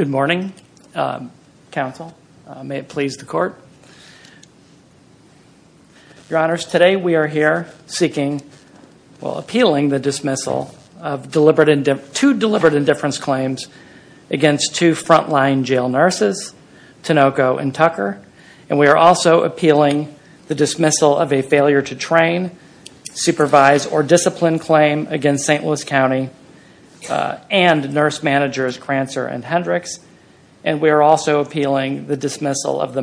2020-2021 Your Honors, today we are here seeking, well, appealing the dismissal of deliberate, two deliberate indifference claims against two frontline jail nurses, Tinoco and Tucker. And we are also appealing the dismissal of a failure to train, supervise, or discipline claim against St. Louis County and nurse managers Crancer and Hendricks. And we are also appealing the dismissal of the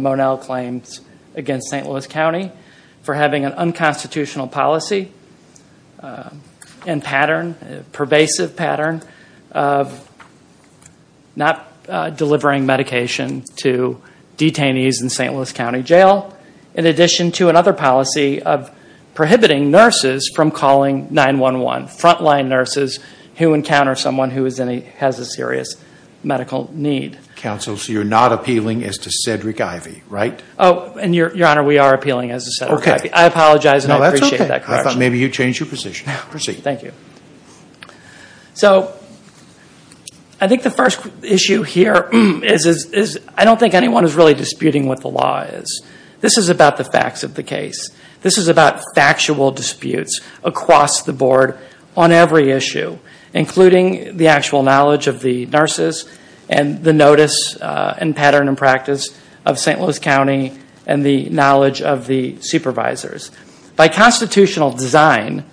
for having an unconstitutional policy and pattern, pervasive pattern, of not delivering medication to detainees in St. Louis County Jail, in addition to another policy of prohibiting nurses from calling 9-1-1, frontline nurses who encounter someone who has a serious medical need. Counsel, so you're not appealing as to Cedric Ivey, right? Oh, and Your Honor, we are appealing as to Cedric Ivey. I apologize and I appreciate that correction. Thank you. So, I think the first issue here is, I don't think anyone is really disputing what the law is. This is about the facts of the case. This is about factual disputes across the board on every issue, including the actual knowledge of the nurses and the notice and pattern and practice of St. Louis County and the knowledge of the supervisors. By constitutional design,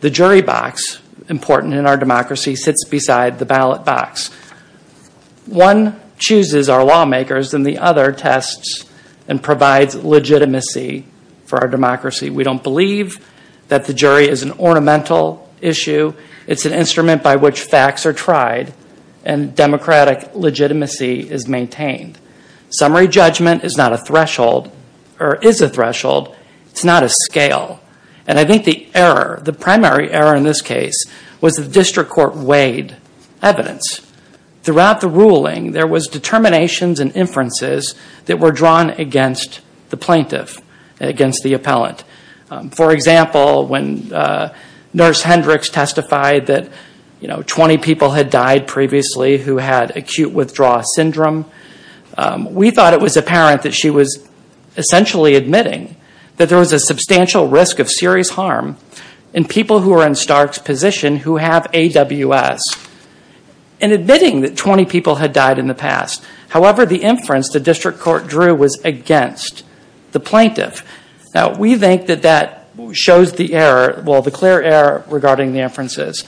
the jury box important in our democracy sits beside the ballot box. One chooses our lawmakers and the other tests and provides legitimacy for our democracy. We don't believe that the jury is an ornamental issue. It's an instrument by which facts are tried and democratic legitimacy is maintained. Summary judgment is not a threshold or is a threshold. It's not a scale. And I think the error, the primary error in this case was the district court weighed evidence. Throughout the ruling, there was determinations and inferences that were drawn against the plaintiff and against the appellant. For example, when Nurse Hendricks testified that 20 people had died previously who had acute withdrawal syndrome, we thought it was apparent that she was essentially admitting that there was a substantial risk of serious harm in people who are in Stark's position who have AWS and admitting that 20 people had died in the past. However, the inference the district court drew was against the plaintiff. Now, we think that that shows the error, regarding the inferences.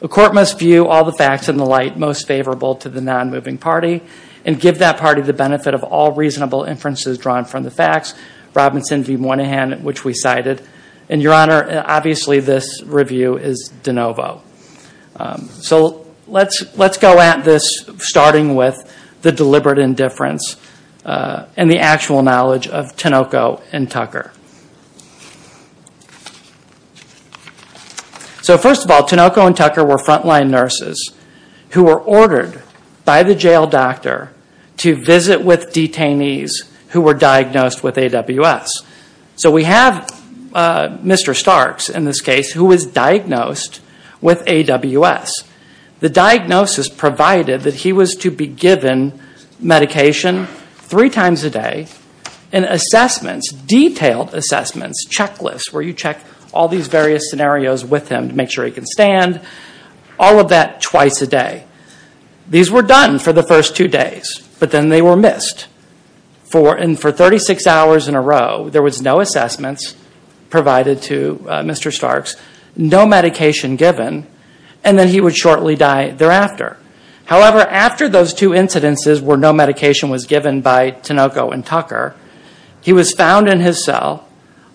The court must view all the facts in the light most favorable to the non-moving party and give that party the benefit of all reasonable inferences drawn from the facts, Robinson v. Moynihan, which we cited. And your honor, obviously this review is de novo. So let's go at this starting with the deliberate indifference and the actual knowledge of Tinoco and Tucker. So first of all, Tinoco and Tucker were frontline nurses who were ordered by the jail doctor to visit with detainees who were diagnosed with AWS. So we have Mr. Starks, in this case, who was diagnosed with AWS. The diagnosis provided that he was to be given medication three times a day and assessments, detailed assessments, checklists where you check all these various scenarios with him to make sure he can stand, all of that twice a day. These were done for the first two days, but then they were missed. And for 36 hours in a row, there was no assessments provided to Mr. Starks, no medication given, and then he would shortly die thereafter. However, after those two incidences where no medication was given by Tinoco and Tucker, he was found in his cell,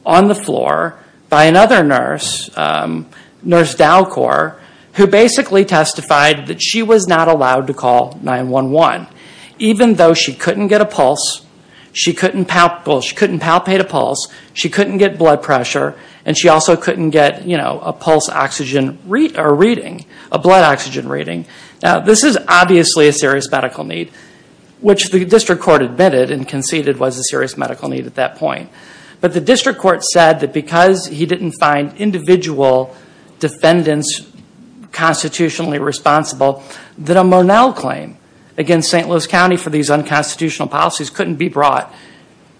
on the floor by another nurse, Nurse Dalkor, who basically testified that she was not allowed to call 911. Even though she couldn't get a pulse, she couldn't palpate a pulse, she couldn't get blood pressure, and she also couldn't get a pulse oxygen reading, a blood oxygen reading. Now this is obviously a serious medical need, which the district court admitted and conceded was a serious medical need at that point. But the district court said that because he didn't find individual defendants constitutionally responsible that a Monell claim against St. Louis County for these unconstitutional policies couldn't be brought.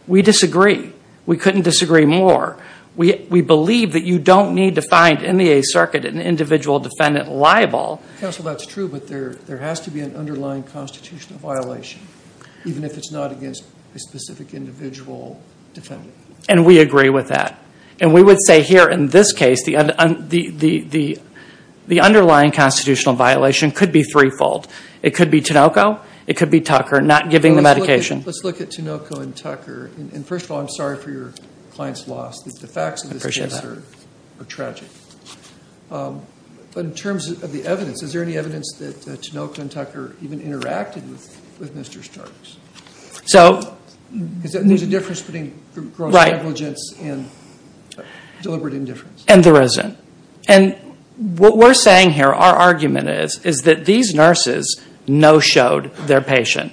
We disagree. We couldn't disagree more. We believe that you don't need to find in the Eighth Circuit an individual defendant liable. Counsel, that's true, but there has to be an underlying constitutional violation, even if it's not against a specific individual defendant. And we agree with that. And we would say here in this case the underlying constitutional violation could be threefold. It could be Tinoco, it could be Tucker not giving the medication. Let's look at Tinoco and Tucker. And first of all, I'm sorry for your client's loss. The facts of this case are tragic. But in terms of the evidence, is there any evidence that Tinoco and Tucker even interacted with Mr. Starks? Is there a difference between gross negligence and deliberate indifference? And there isn't. And what we're saying here, our argument is, is that these nurses no-showed their patient.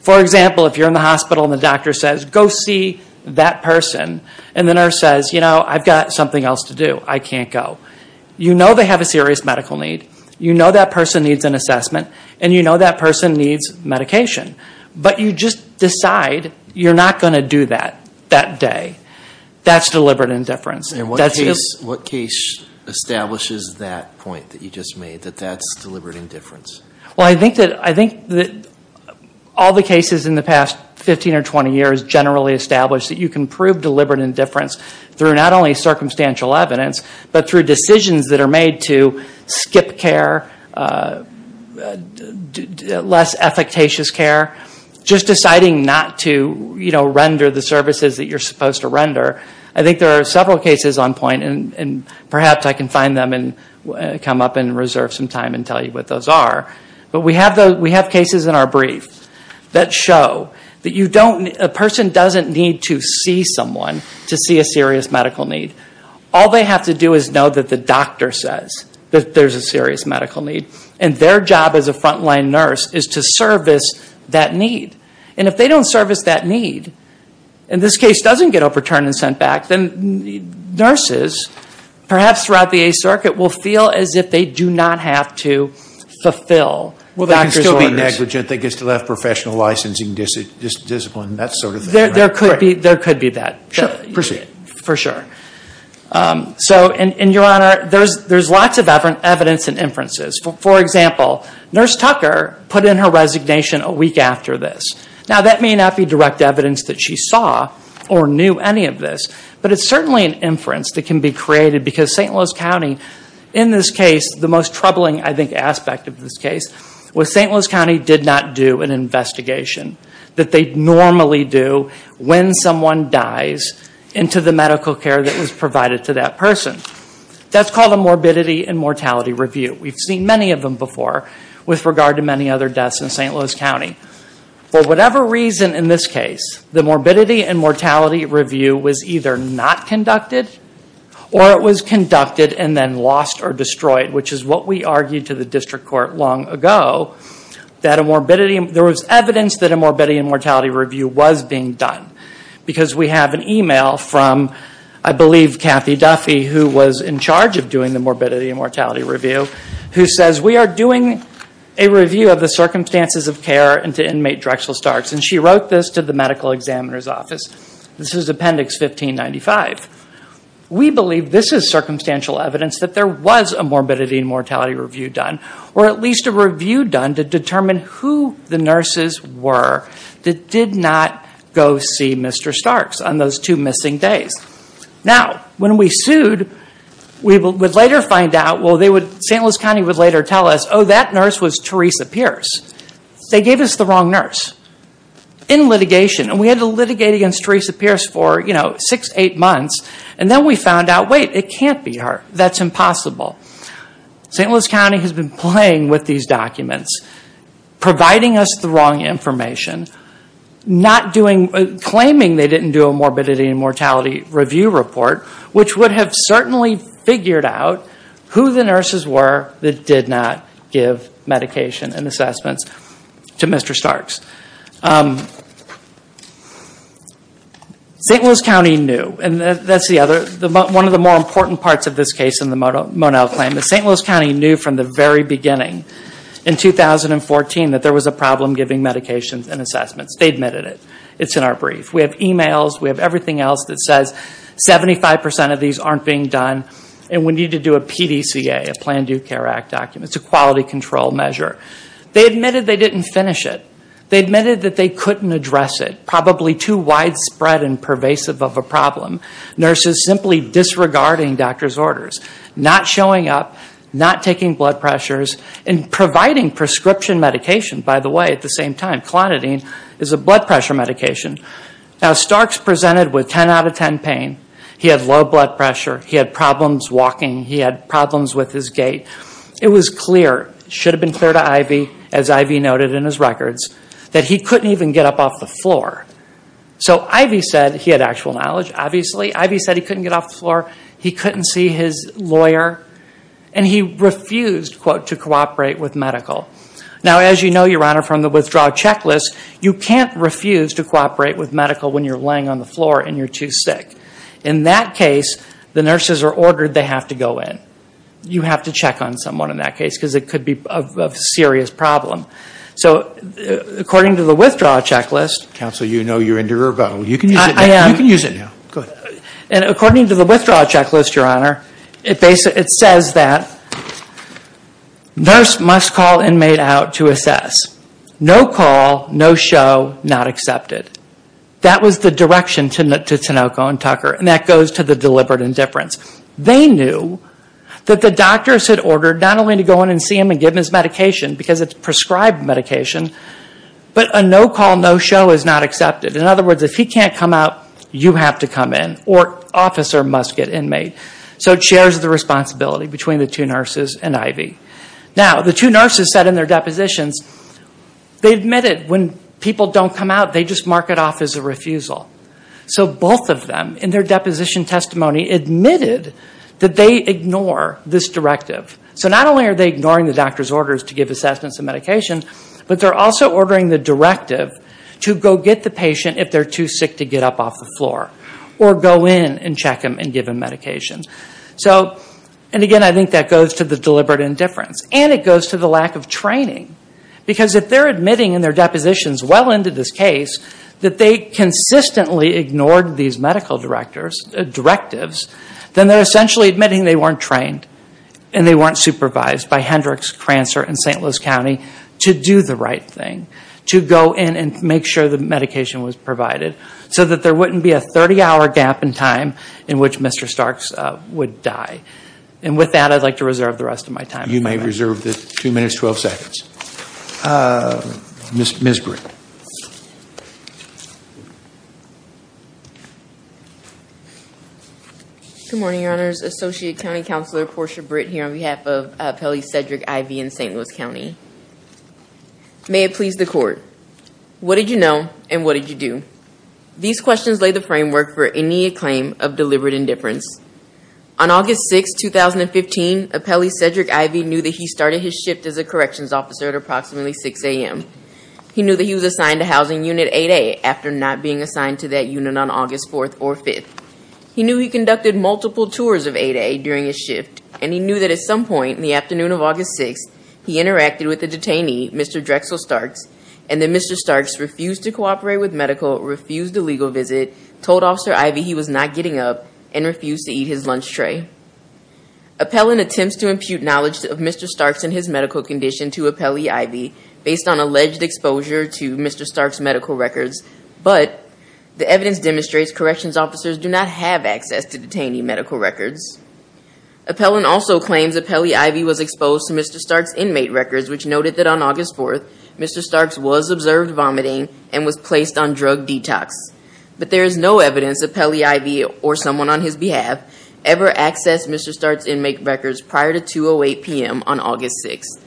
For example, if you're in the hospital and the doctor says, go see that person, and the nurse says, you know, I've got something else to do. I can't go. You know they have a serious medical need. You know that person needs an assessment. And you know that person needs medication. But you just decide you're not going to do that that day. That's deliberate indifference. And what case establishes that point that you just made, that that's deliberate indifference? Well, I think that all the cases in the past 15 or 20 years generally establish that you can use not only circumstantial evidence, but through decisions that are made to skip care, less efficacious care, just deciding not to, you know, render the services that you're supposed to render. I think there are several cases on point, and perhaps I can find them and come up and reserve some time and tell you what those are. But we have cases in our brief that show that a person doesn't need to see someone to see a serious medical need. All they have to do is know that the doctor says that there's a serious medical need. And their job as a frontline nurse is to service that need. And if they don't service that need, and this case doesn't get overturned and sent back, then nurses perhaps throughout the Eighth Circuit will feel as if they do not have to fulfill doctor's orders. Well, they can still be negligent. They can still have professional licensing discipline. That's sort of the... There could be that. Sure. Proceed. For sure. So, and Your Honor, there's lots of evidence and inferences. For example, Nurse Tucker put in her resignation a week after this. Now, that may not be direct evidence that she saw or knew any of this, but it's certainly an inference that can be created because St. Louis County, in this case, the most troubling, I think, aspect of this case was that St. Louis County did not do an investigation that they normally do when someone dies into the medical care that was provided to that person. That's called a morbidity and mortality review. We've seen many of them before with regard to many other deaths in St. Louis County. For whatever reason in this case, the morbidity and mortality review was either not conducted or it was conducted and then lost or destroyed, which is what we argued to the district court long ago that a morbidity... There was evidence that a morbidity and mortality review was being done because we have an email from, I believe, Kathy Duffy, who was in charge of doing the morbidity and mortality review who says, we are doing a review of the circumstances of care into inmate Drexel Starks. And she wrote this to the medical examiner's office. This is appendix 1595. We believe this is circumstantial evidence that there was a morbidity and mortality review done or at least a review done to determine who the nurses were that did not go see Mr. Starks on those two missing days. Now, when we sued, we would later find out... St. Louis County would later tell us, oh, that nurse was Teresa Pierce. They gave us the wrong nurse in litigation and we had to litigate against Teresa Pierce for, you know, that can't be her. That's impossible. St. Louis County has been playing with these documents providing us the wrong information claiming they didn't do a morbidity and mortality review report, which would have certainly figured out who the nurses were that did not give medication and assessments to Mr. Starks. St. Louis County knew and that's the other... One of the more important parts of this case in the Monell claim is St. Louis County knew from the very beginning in 2014 that there was a problem giving medications and assessments. They admitted it. It's in our brief. We have emails. We have everything else that says 75% of these aren't being done and we need to do a PDCA, a Planned Due Care Act document. It's a quality control measure. They admitted they didn't finish it. They admitted that they couldn't address it. Probably too widespread and pervasive of a problem. Nurses simply disregarding doctor's orders. Not showing up. Not taking blood pressures. And providing prescription medication, by the way, at the same time. Clonidine is a blood pressure medication. Now Starks presented with 10 out of 10 pain. He had low blood pressure. He had problems walking. He had problems with his gait. It was clear. Should have been clear to Ivy, as Ivy noted in his records, that he couldn't even get up off the floor. So Ivy said he had actual knowledge, obviously. Ivy said he couldn't get off the floor. He couldn't see his lawyer. And he refused to cooperate with medical. Now as you know, Your Honor, from the withdrawal checklist, you can't refuse to cooperate with medical when you're laying on the floor and you're too sick. In that case, the nurses are ordered they have to go in. You have to check on someone in that case because it could be a serious problem. So according to the withdrawal checklist... Counsel, you know you're in derivative. You can use it now. I am. You can use it now. Go ahead. And according to the withdrawal checklist, Your Honor, it says that nurse must call inmate out to assess. No call. No show. Not accepted. That was the direction to Tinoco and Tucker. And that goes to the deliberate indifference. They knew that the doctors had ordered not only to go in and see him and give him his medication because it's prescribed medication, but a no call, no show is not accepted. In other words, if he can't come out, you have to come in or officer must get inmate. So it shares the responsibility between the two nurses and Ivy. Now the two nurses said in their depositions, they admitted when people don't come out, they just mark it off as a refusal. So both of them in their deposition testimony admitted that they ignore this directive. So not only are they ignoring the doctor's orders to give assessments and medications, but they're also ordering the directive to go get the patient if they're too sick to get up off the floor. Or go in and check him and give him medication. And again, I think that goes to the deliberate indifference. And it goes to the lack of training. Because if they're admitting in their depositions well into this case that they consistently ignored these medical directives, then they're essentially admitting they weren't trained and they weren't supervised by Hendricks, Crancer and St. Louis County to do the right thing. To go in and make sure the medication was provided. So that there wouldn't be a 30 hour gap in time in which Mr. Starks would die. And with that, I'd like to reserve the rest of my time. You may reserve the 2 minutes 12 seconds. Ms. Britt. Good morning, Your Honors. Associate County Counselor Portia Britt here on behalf of Appellee Cedric Ivey in St. Louis County. May it please the Court. What did you know and what did you do? These questions lay the framework for any claim of deliberate indifference. On August 6, 2015, Appellee Cedric Ivey knew that he started his shift as a corrections officer at approximately 6 a.m. He knew that he was assigned to Housing Unit 8A after not being assigned to that unit on August 4th or 5th. He knew he conducted multiple tours of 8A during his shift. And he knew that at some point in the afternoon of August 6th, he interacted with a detainee, Mr. Drexel Starks. And then Mr. Starks refused to cooperate with medical, refused a legal visit, told Officer Ivey he was not getting up, and refused to eat his lunch tray. Appellant attempts to impute knowledge of Mr. Starks and his medical condition to Appellee Ivey based on alleged exposure to Mr. Starks' medical records. But the evidence demonstrates corrections officers do not have access to detainee medical records. Appellant also claims Appellee Ivey was exposed to Mr. Starks' inmate records, which noted that on August 4th, Mr. Starks was observed vomiting and was placed on drug detox. But there is no evidence Appellee Ivey or someone on his behalf ever accessed Mr. Starks' inmate records prior to 2.08 p.m. on August 6th.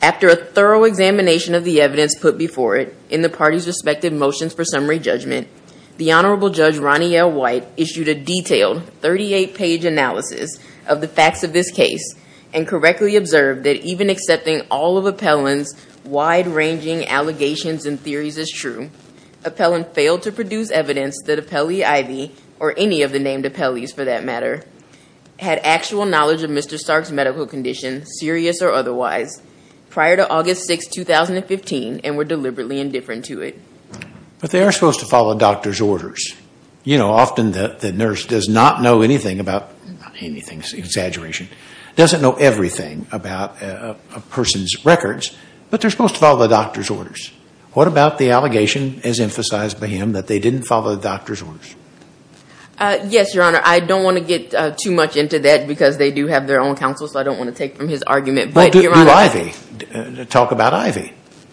After a thorough examination of the evidence put before it in the parties' respective motions for summary judgment, the Honorable Judge Ronnie L. White issued a detailed 38-page analysis of the facts of this case and correctly observed that even accepting all of Appellant's wide-ranging allegations and theories as true, Appellant failed to produce evidence that Appellee Ivey or any of the named appellees for that matter had actual knowledge of Mr. Starks' medical condition, serious or otherwise, prior to August 6th, 2015 and were deliberately indifferent to it. But they are supposed to follow doctor's orders. You know, often the nurse does not know anything about – not anything, it's an exaggeration – doesn't know everything about a person's records, but they're supposed to follow the doctor's orders. What about the allegation as emphasized by him that they didn't follow the doctor's orders? Yes, Your Honor, I don't want to get too much into that because they do have their own counsel, so I don't want to take from his argument, but Your Honor – Well, do Ivey talk about Ivey?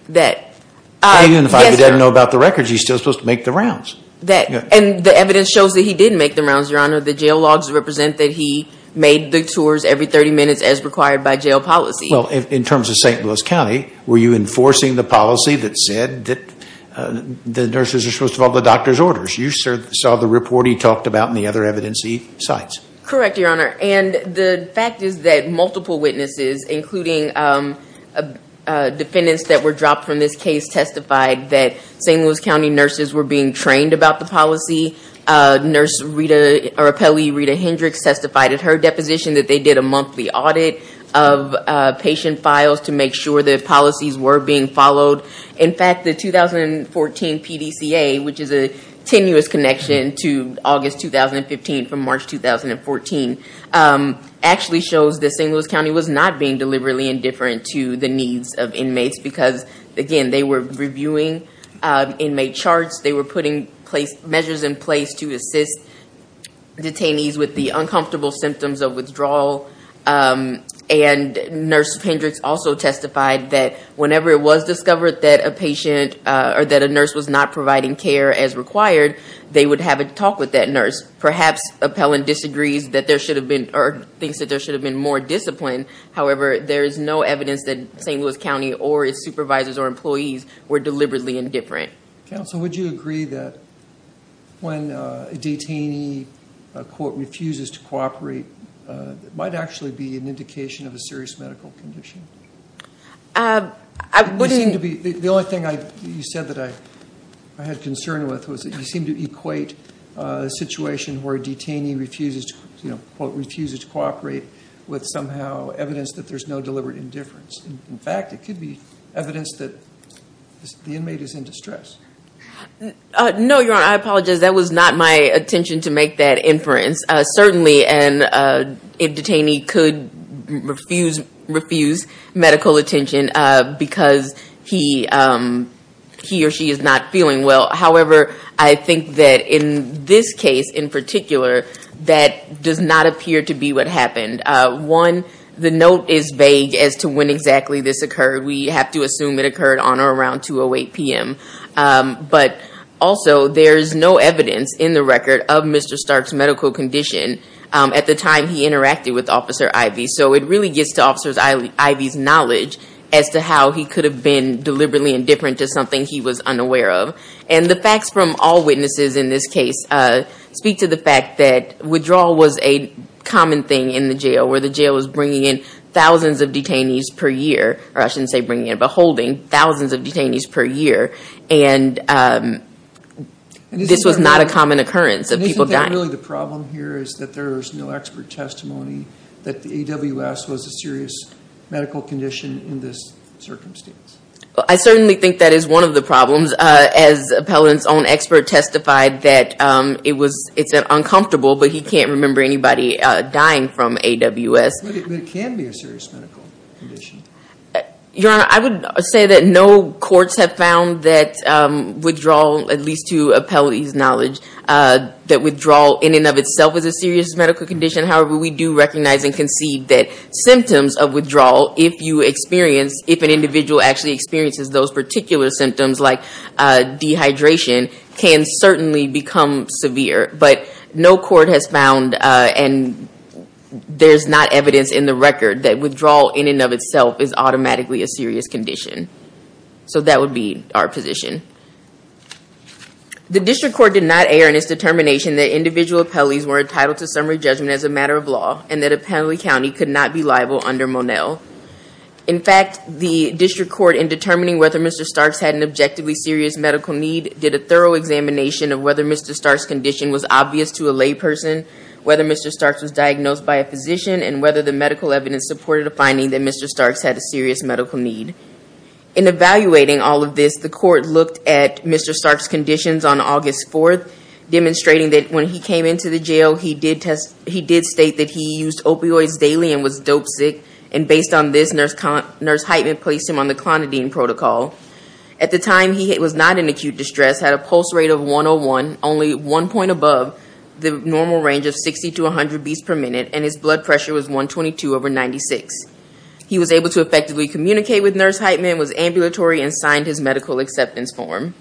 That – yes, Your Honor. Even if Ivey didn't know about the records, he's still supposed to make the rounds. That – and the evidence shows that he did make the rounds, Your Honor. The jail logs represent that he made the tours every 30 minutes as required by jail policy. Well, in terms of St. Louis County, were you enforcing the policy that said that the nurses are supposed to follow the doctor's orders? You saw the report he talked about and the other evidence he cites. Correct, Your Honor. And the fact is that multiple witnesses, including defendants that were dropped from this case testified that St. Louis County nurses were being trained about the policy. Nurse Rita – or appellee Rita Hendricks testified at her deposition that they did a monthly audit of patient files to make sure that policies were being followed. In fact, the 2014 PDCA, which is a tenuous connection to August 2015 from March 2014, actually shows that St. Louis County was not being deliberately indifferent to the needs of inmates because, again, they were reviewing inmate charts. They were putting measures in place to assist detainees with the uncomfortable symptoms of withdrawal. And Nurse Hendricks also testified that whenever it was discovered that a patient – or that a nurse was not providing care as required, they would have a talk with that nurse. Perhaps Appellant disagrees that there should have been – or thinks that there should have been more discipline. However, there is no evidence that St. Louis County or its supervisors or employees were deliberately indifferent. Counsel, would you agree that when a detainee court refuses to cooperate, it might actually be an indication of a serious medical condition? The only thing you said that I had concern with was that you seemed to equate a situation where a detainee refuses to cooperate with somehow evidence that there's no deliberate indifference. In fact, it could be evidence that the inmate is in distress. No, Your Honor. I apologize. That was not my indifference. Certainly, an detainee could refuse medical attention because he or she is not feeling well. However, I think that in this case in particular, that does not appear to be what happened. One, the note is vague as to when exactly this occurred. We have to assume it occurred on or around 2.08 p.m. But also, there's no evidence in the record of Mr. Stark's medical condition at the time he interacted with Officer Ivey. So it really gets to Officer Ivey's knowledge as to how he could have been deliberately indifferent to something he was unaware of. And the facts from all witnesses in this case speak to the fact that withdrawal was a common thing in the jail, where the jail was bringing in thousands of detainees per year or I shouldn't say bringing in, but holding thousands of detainees per year. And this was not a common occurrence of people dying. And isn't that really the problem here is that there is no expert testimony that the AWS was a serious medical condition in this circumstance? Well, I certainly think that is one of the problems. As an appellant's own expert testified that it's uncomfortable but he can't remember anybody dying from AWS. But it can be a serious medical condition. Your Honor, I would say that no courts have found that withdrawal, at least to appellee's knowledge that withdrawal in and of itself is a serious medical condition. However, we do recognize and concede that symptoms of withdrawal, if an individual actually experiences those particular symptoms like dehydration, can certainly become severe. But no court has found and there's not evidence in the record that withdrawal in and of itself is automatically a serious condition. So that would be our position. The district court did not air in its determination that individual appellees were entitled to summary judgment as a matter of law and that appellee county could not be liable under Monell. In fact, the district court in determining whether Mr. Starks had an objectively serious medical need did a thorough examination of whether Mr. Starks' condition was obvious to a lay person, whether Mr. Starks was diagnosed by a physician, and whether the medical evidence supported a finding that Mr. Starks had a serious medical need. In evaluating all of this, the court looked at Mr. Starks' conditions on August 4th, demonstrating that when he came into the jail, he did state that he used opioids daily and was dope sick and based on this, Nurse Heitman placed him on the Clonidine protocol. At the time, he was not in acute distress, had a pulse rate of 101, only one point above the normal range of 60 to 100 beats per minute and his blood pressure was 122 over 96. He was able to effectively communicate with Nurse Heitman, was ambulatory and signed his medical acceptance form.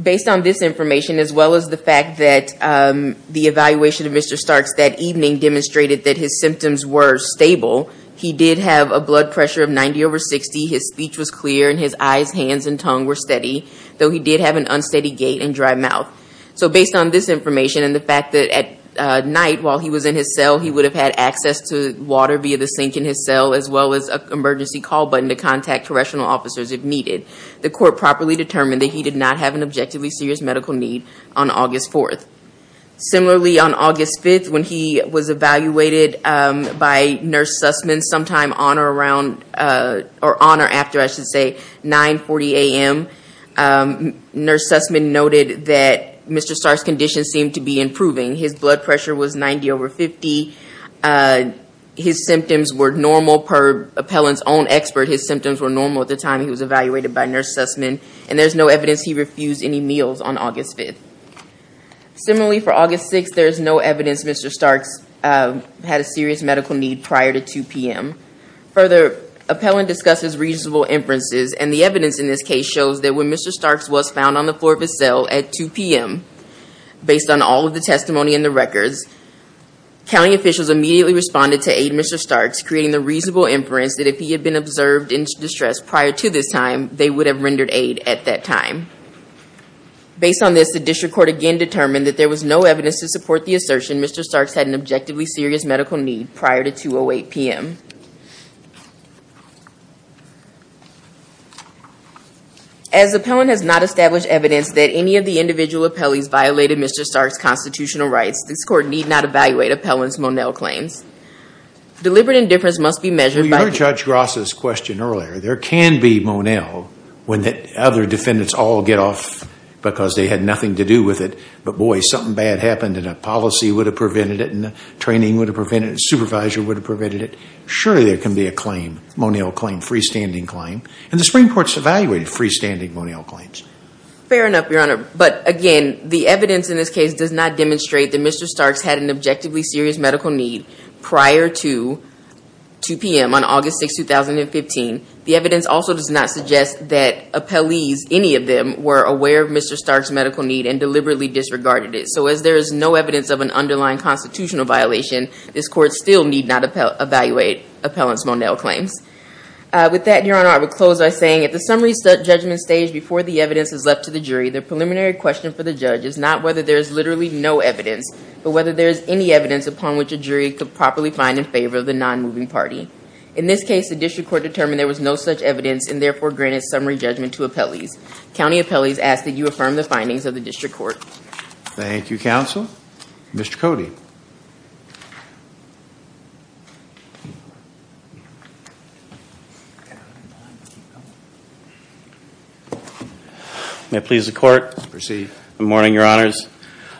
Based on this information, as well as the fact that the evaluation of Mr. Starks that evening demonstrated that his symptoms were stable, he did have a blood pressure of 90 over 60, his speech was clear and his eyes, hands and tongue were steady, though he did have an unsteady gait and dry mouth. Based on this information and the fact that at night while he was in his cell, he would have had access to water via the sink in his cell as well as an emergency call button to contact correctional officers if needed, the court properly determined that he did not have an objectively serious medical need on August 4th. Similarly, on August 5th, when he was evaluated by Nurse Sussman sometime on or after 9.40 a.m., Nurse Sussman noted that Mr. Starks' condition seemed to be improving. His blood pressure was 90 over 50. His symptoms were normal per Appellant's own expert. His symptoms were normal at the time he was evaluated by Nurse Sussman and there is no evidence he refused any meals on August 5th. Similarly, for August 6th, there is no evidence Mr. Starks had a serious medical need prior to 2 p.m. Further, Appellant discusses reasonable inferences and the evidence in this case shows that when Mr. Starks was found on the floor of his cell at 2 p.m., based on all of the testimony in the records, county officials immediately responded to aid Mr. Starks, creating the reasonable inference that if he had been observed in distress prior to this time, they would have rendered aid at that time. Based on this, the District Court again determined that there was no evidence to support the assertion Mr. Starks had an objectively serious medical need prior to 2 p.m. As Appellant has not established evidence that any of the individual appellees violated Mr. Starks' constitutional rights, this Court need not evaluate Appellant's Monell claims. Deliberate indifference must be measured by... You heard Judge Gross' question earlier. There can be Monell when the other defendants all get off because they had nothing to do with it, but boy, something bad happened and a training supervisor would have prevented it. Surely there can be a Monell claim, a freestanding claim, and the Supreme Court has evaluated freestanding Monell claims. Fair enough, Your Honor, but again, the evidence in this case does not demonstrate that Mr. Starks had an objectively serious medical need prior to 2 p.m. on August 6, 2015. The evidence also does not suggest that appellees, any of them, were aware of Mr. Starks' medical need and deliberately disregarded it. So as there is no evidence of an underlying constitutional violation, this Court still need not evaluate Appellant's Monell claims. With that, Your Honor, I would close by saying at the summary judgment stage before the evidence is left to the jury, the preliminary question for the judge is not whether there is literally no evidence, but whether there is any evidence upon which a jury could properly find in favor of the non-moving party. In this case, the District Court determined there was no such evidence and therefore granted summary judgment to appellees. County appellees ask that you affirm the findings of the District Court. Thank you, Counsel. Mr. Cody. May it please the Court. Proceed. Good morning, Your Honors.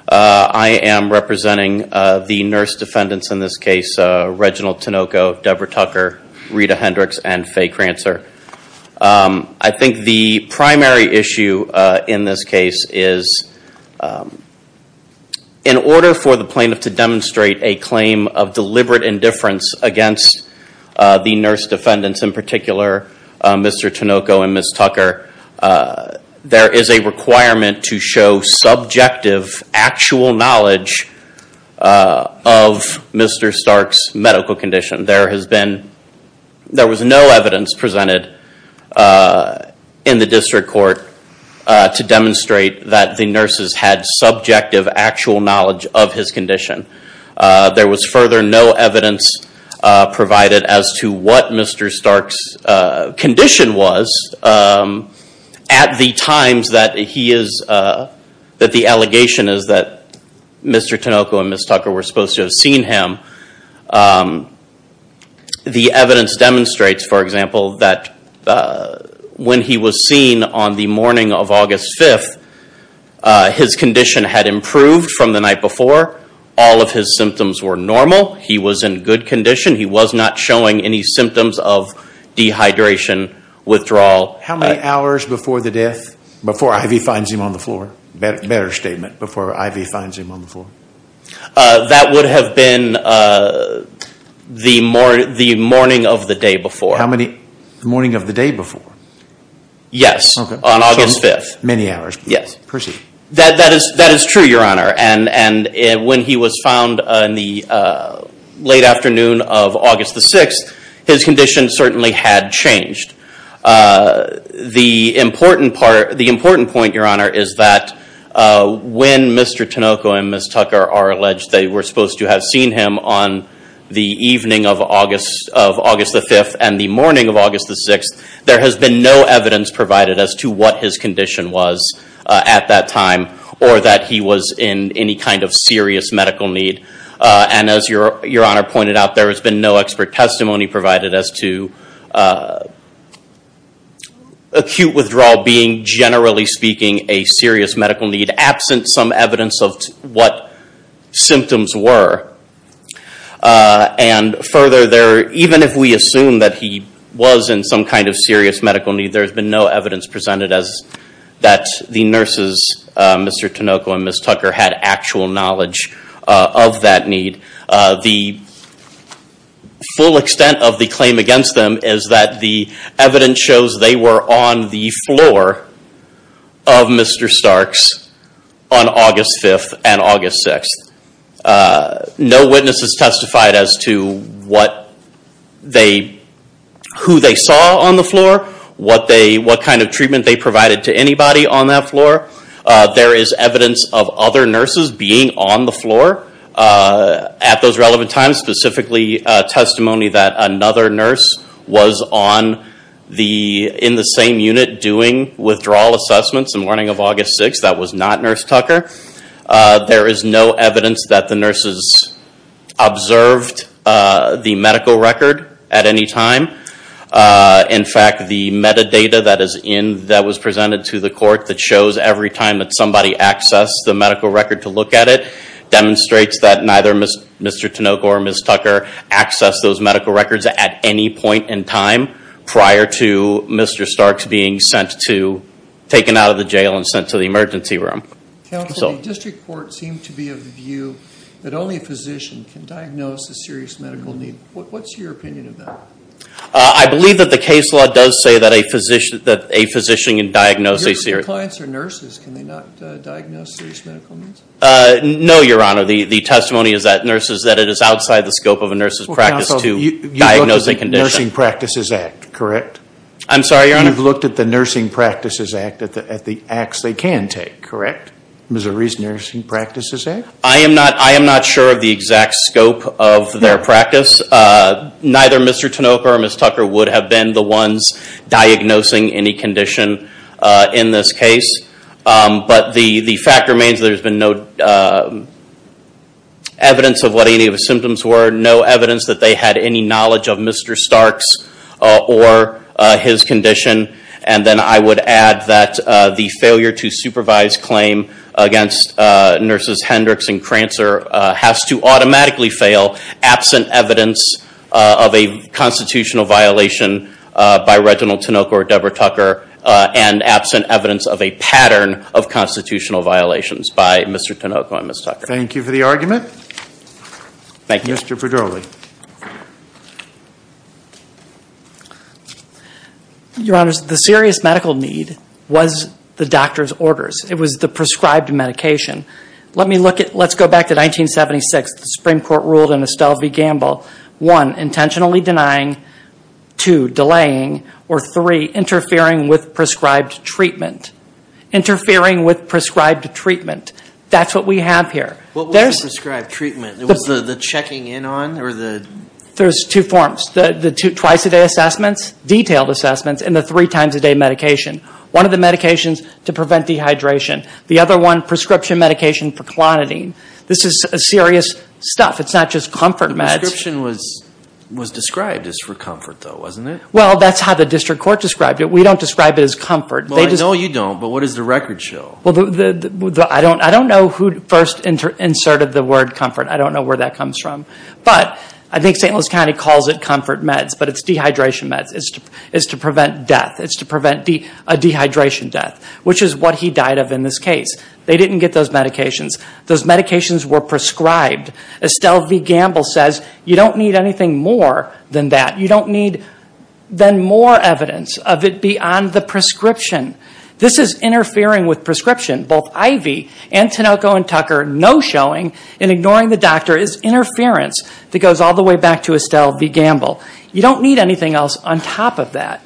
I am representing the nurse defendants in this case, Reginald Tinoco, Deborah Tucker, Rita Hendricks, and Faye Crancer. I think the primary issue in this case is in order for the plaintiff to demonstrate a claim of deliberate indifference against the nurse defendants, in particular Mr. Tinoco and Ms. Tucker, there is a requirement to show subjective actual knowledge of Mr. Stark's medical condition. There was no evidence presented in the District Court to demonstrate that the nurses had subjective actual knowledge of his condition. There was further no evidence provided as to what Mr. Stark's condition was at the times that the allegation is that Mr. Tinoco and Ms. Tucker were supposed to have seen him The evidence demonstrates, for example, that when he was seen on the morning of August 5th, his condition had improved from the night before. All of his symptoms were normal. He was in good condition. He was not showing any symptoms of dehydration, withdrawal. How many hours before the death, before Ivy finds him on the floor? Better statement, before Ivy finds him on the floor. That would have been the morning of the day before. The morning of the day before? Yes, on August 5th. That is true, Your Honor. When he was found in the late afternoon of August 6th, his condition certainly had changed. The important point, Your Honor, is that when Mr. Tinoco and Ms. Tucker are alleged they were supposed to have seen him on the evening of August 5th and the morning of August 6th, there has been no evidence provided as to what his condition was at that time or that he was in any kind of serious medical need. As Your Honor pointed out, there has been no expert testimony provided as to acute withdrawal being generally speaking a serious medical need, absent some evidence of what symptoms were. Further, even if we assume that he was in some kind of serious medical need, there has been no evidence presented that the nurses, Mr. Tinoco and Ms. Tucker, had actual knowledge of that need. The full extent of the claim against them is that the evidence shows they were on the floor of Mr. Starks on August 5th and August 6th. No witnesses testified as to who they saw on the floor, what kind of treatment they provided to anybody on that floor. There is evidence of other nurses being on the floor at those relevant times, specifically testimony that another nurse was in the same unit doing withdrawal assessments on the morning of August 6th. That was not Nurse Tucker. There is no evidence that the nurses observed the medical record at any time. In fact, the metadata that was presented to the court that shows every time that somebody accessed the medical record to look at it, demonstrates that neither Mr. Tinoco or Ms. Tucker accessed those medical records at any point in time prior to Mr. Starks being taken out of the jail and sent to the emergency room. District Court seemed to be of the view that only a physician can diagnose a serious medical need. What's your opinion of that? I believe that the case law does say that a physician can diagnose a serious Your clients are nurses. Can they not diagnose serious medical needs? No, Your Honor. The testimony is that it is outside the scope of a nurse's practice to diagnose a condition. You looked at the Nursing Practices Act, correct? I'm sorry, Your Honor? You looked at the Nursing Practices Act, at the acts they can take, correct? I am not sure of the exact scope of their practice. Neither Mr. Tinoco or Ms. Tucker would have been the ones diagnosing any condition in this case. The fact remains that there has been no evidence of what any of the symptoms were. No evidence that they had any knowledge of Mr. Starks or his condition. I would add that the failure to supervise claim against Nurses Hendricks and Crancer has to automatically fail absent evidence of a constitutional violation by Reginald Tinoco or Deborah Tucker and absent evidence of a pattern of constitutional violations by Mr. Tinoco and Ms. Tucker. Thank you for the argument. Thank you. Mr. Pedroli. Your Honor, the serious medical need was the doctor's orders. It was the prescribed medication. Let's go back to 1976. The Supreme Court ruled in Estelle v. Gamble. One, intentionally denying. Two, delaying. Or three, interfering with prescribed treatment. Interfering with prescribed treatment. That's what we have here. What was prescribed treatment? Was the checking in on? There's two forms. The twice a day assessments, detailed assessments, and the three times a day medication. One of the medications to prevent dehydration. The other one, prescription medication for Clonidine. This is serious stuff. It's not just comfort meds. The prescription was described as for comfort though, wasn't it? Well, that's how the district court described it. We don't describe it as comfort. Well, I know you don't, but what does the record show? Well, I don't know who first inserted the word comfort. I don't know where that comes from. But, I think St. Louis County calls it comfort meds, but it's dehydration meds. It's to prevent death. It's to prevent a dehydration death. Which is what he died of in this case. They didn't get those medications. Those medications were prescribed. Estelle V. Gamble says, you don't need anything more than that. You don't need then more evidence of it beyond the prescription. This is interfering with prescription. Both IV and Tinoco and Tucker, no showing in ignoring the doctor is interference that goes all the way back to Estelle V. Gamble. You don't need anything else on top of that.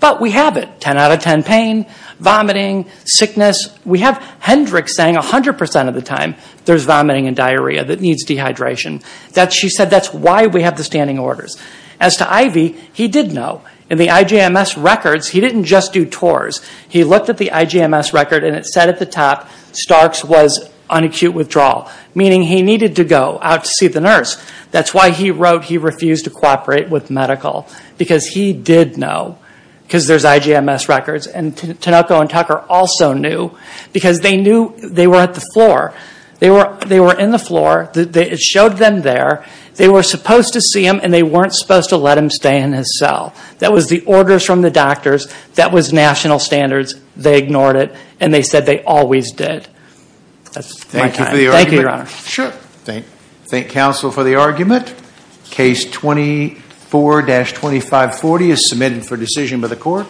But, we have it. 10 out of 10 pain, vomiting, sickness. We have Hendrick saying 100% of the time there's vomiting and diarrhea that needs dehydration. She said that's why we have the standing orders. As to IV, he did know. In the IJMS records, he didn't just do TORS. He looked at the IJMS record and it said at the top, Stark's was on acute withdrawal. Meaning he needed to go out to see the nurse. That's why he wrote he refused to cooperate with medical. Because he did know. Because there's IJMS records and Tinoco and Tucker also knew. Because they knew they were at the floor. They were in the floor. It showed them there. They were supposed to see him and they weren't supposed to let him stay in his cell. That was the orders from the doctors. That was national standards. They ignored it. And they said they always did. Thank you, Your Honor. Thank you, counsel, for the argument. Case 24-2540 is submitted for decision by the court.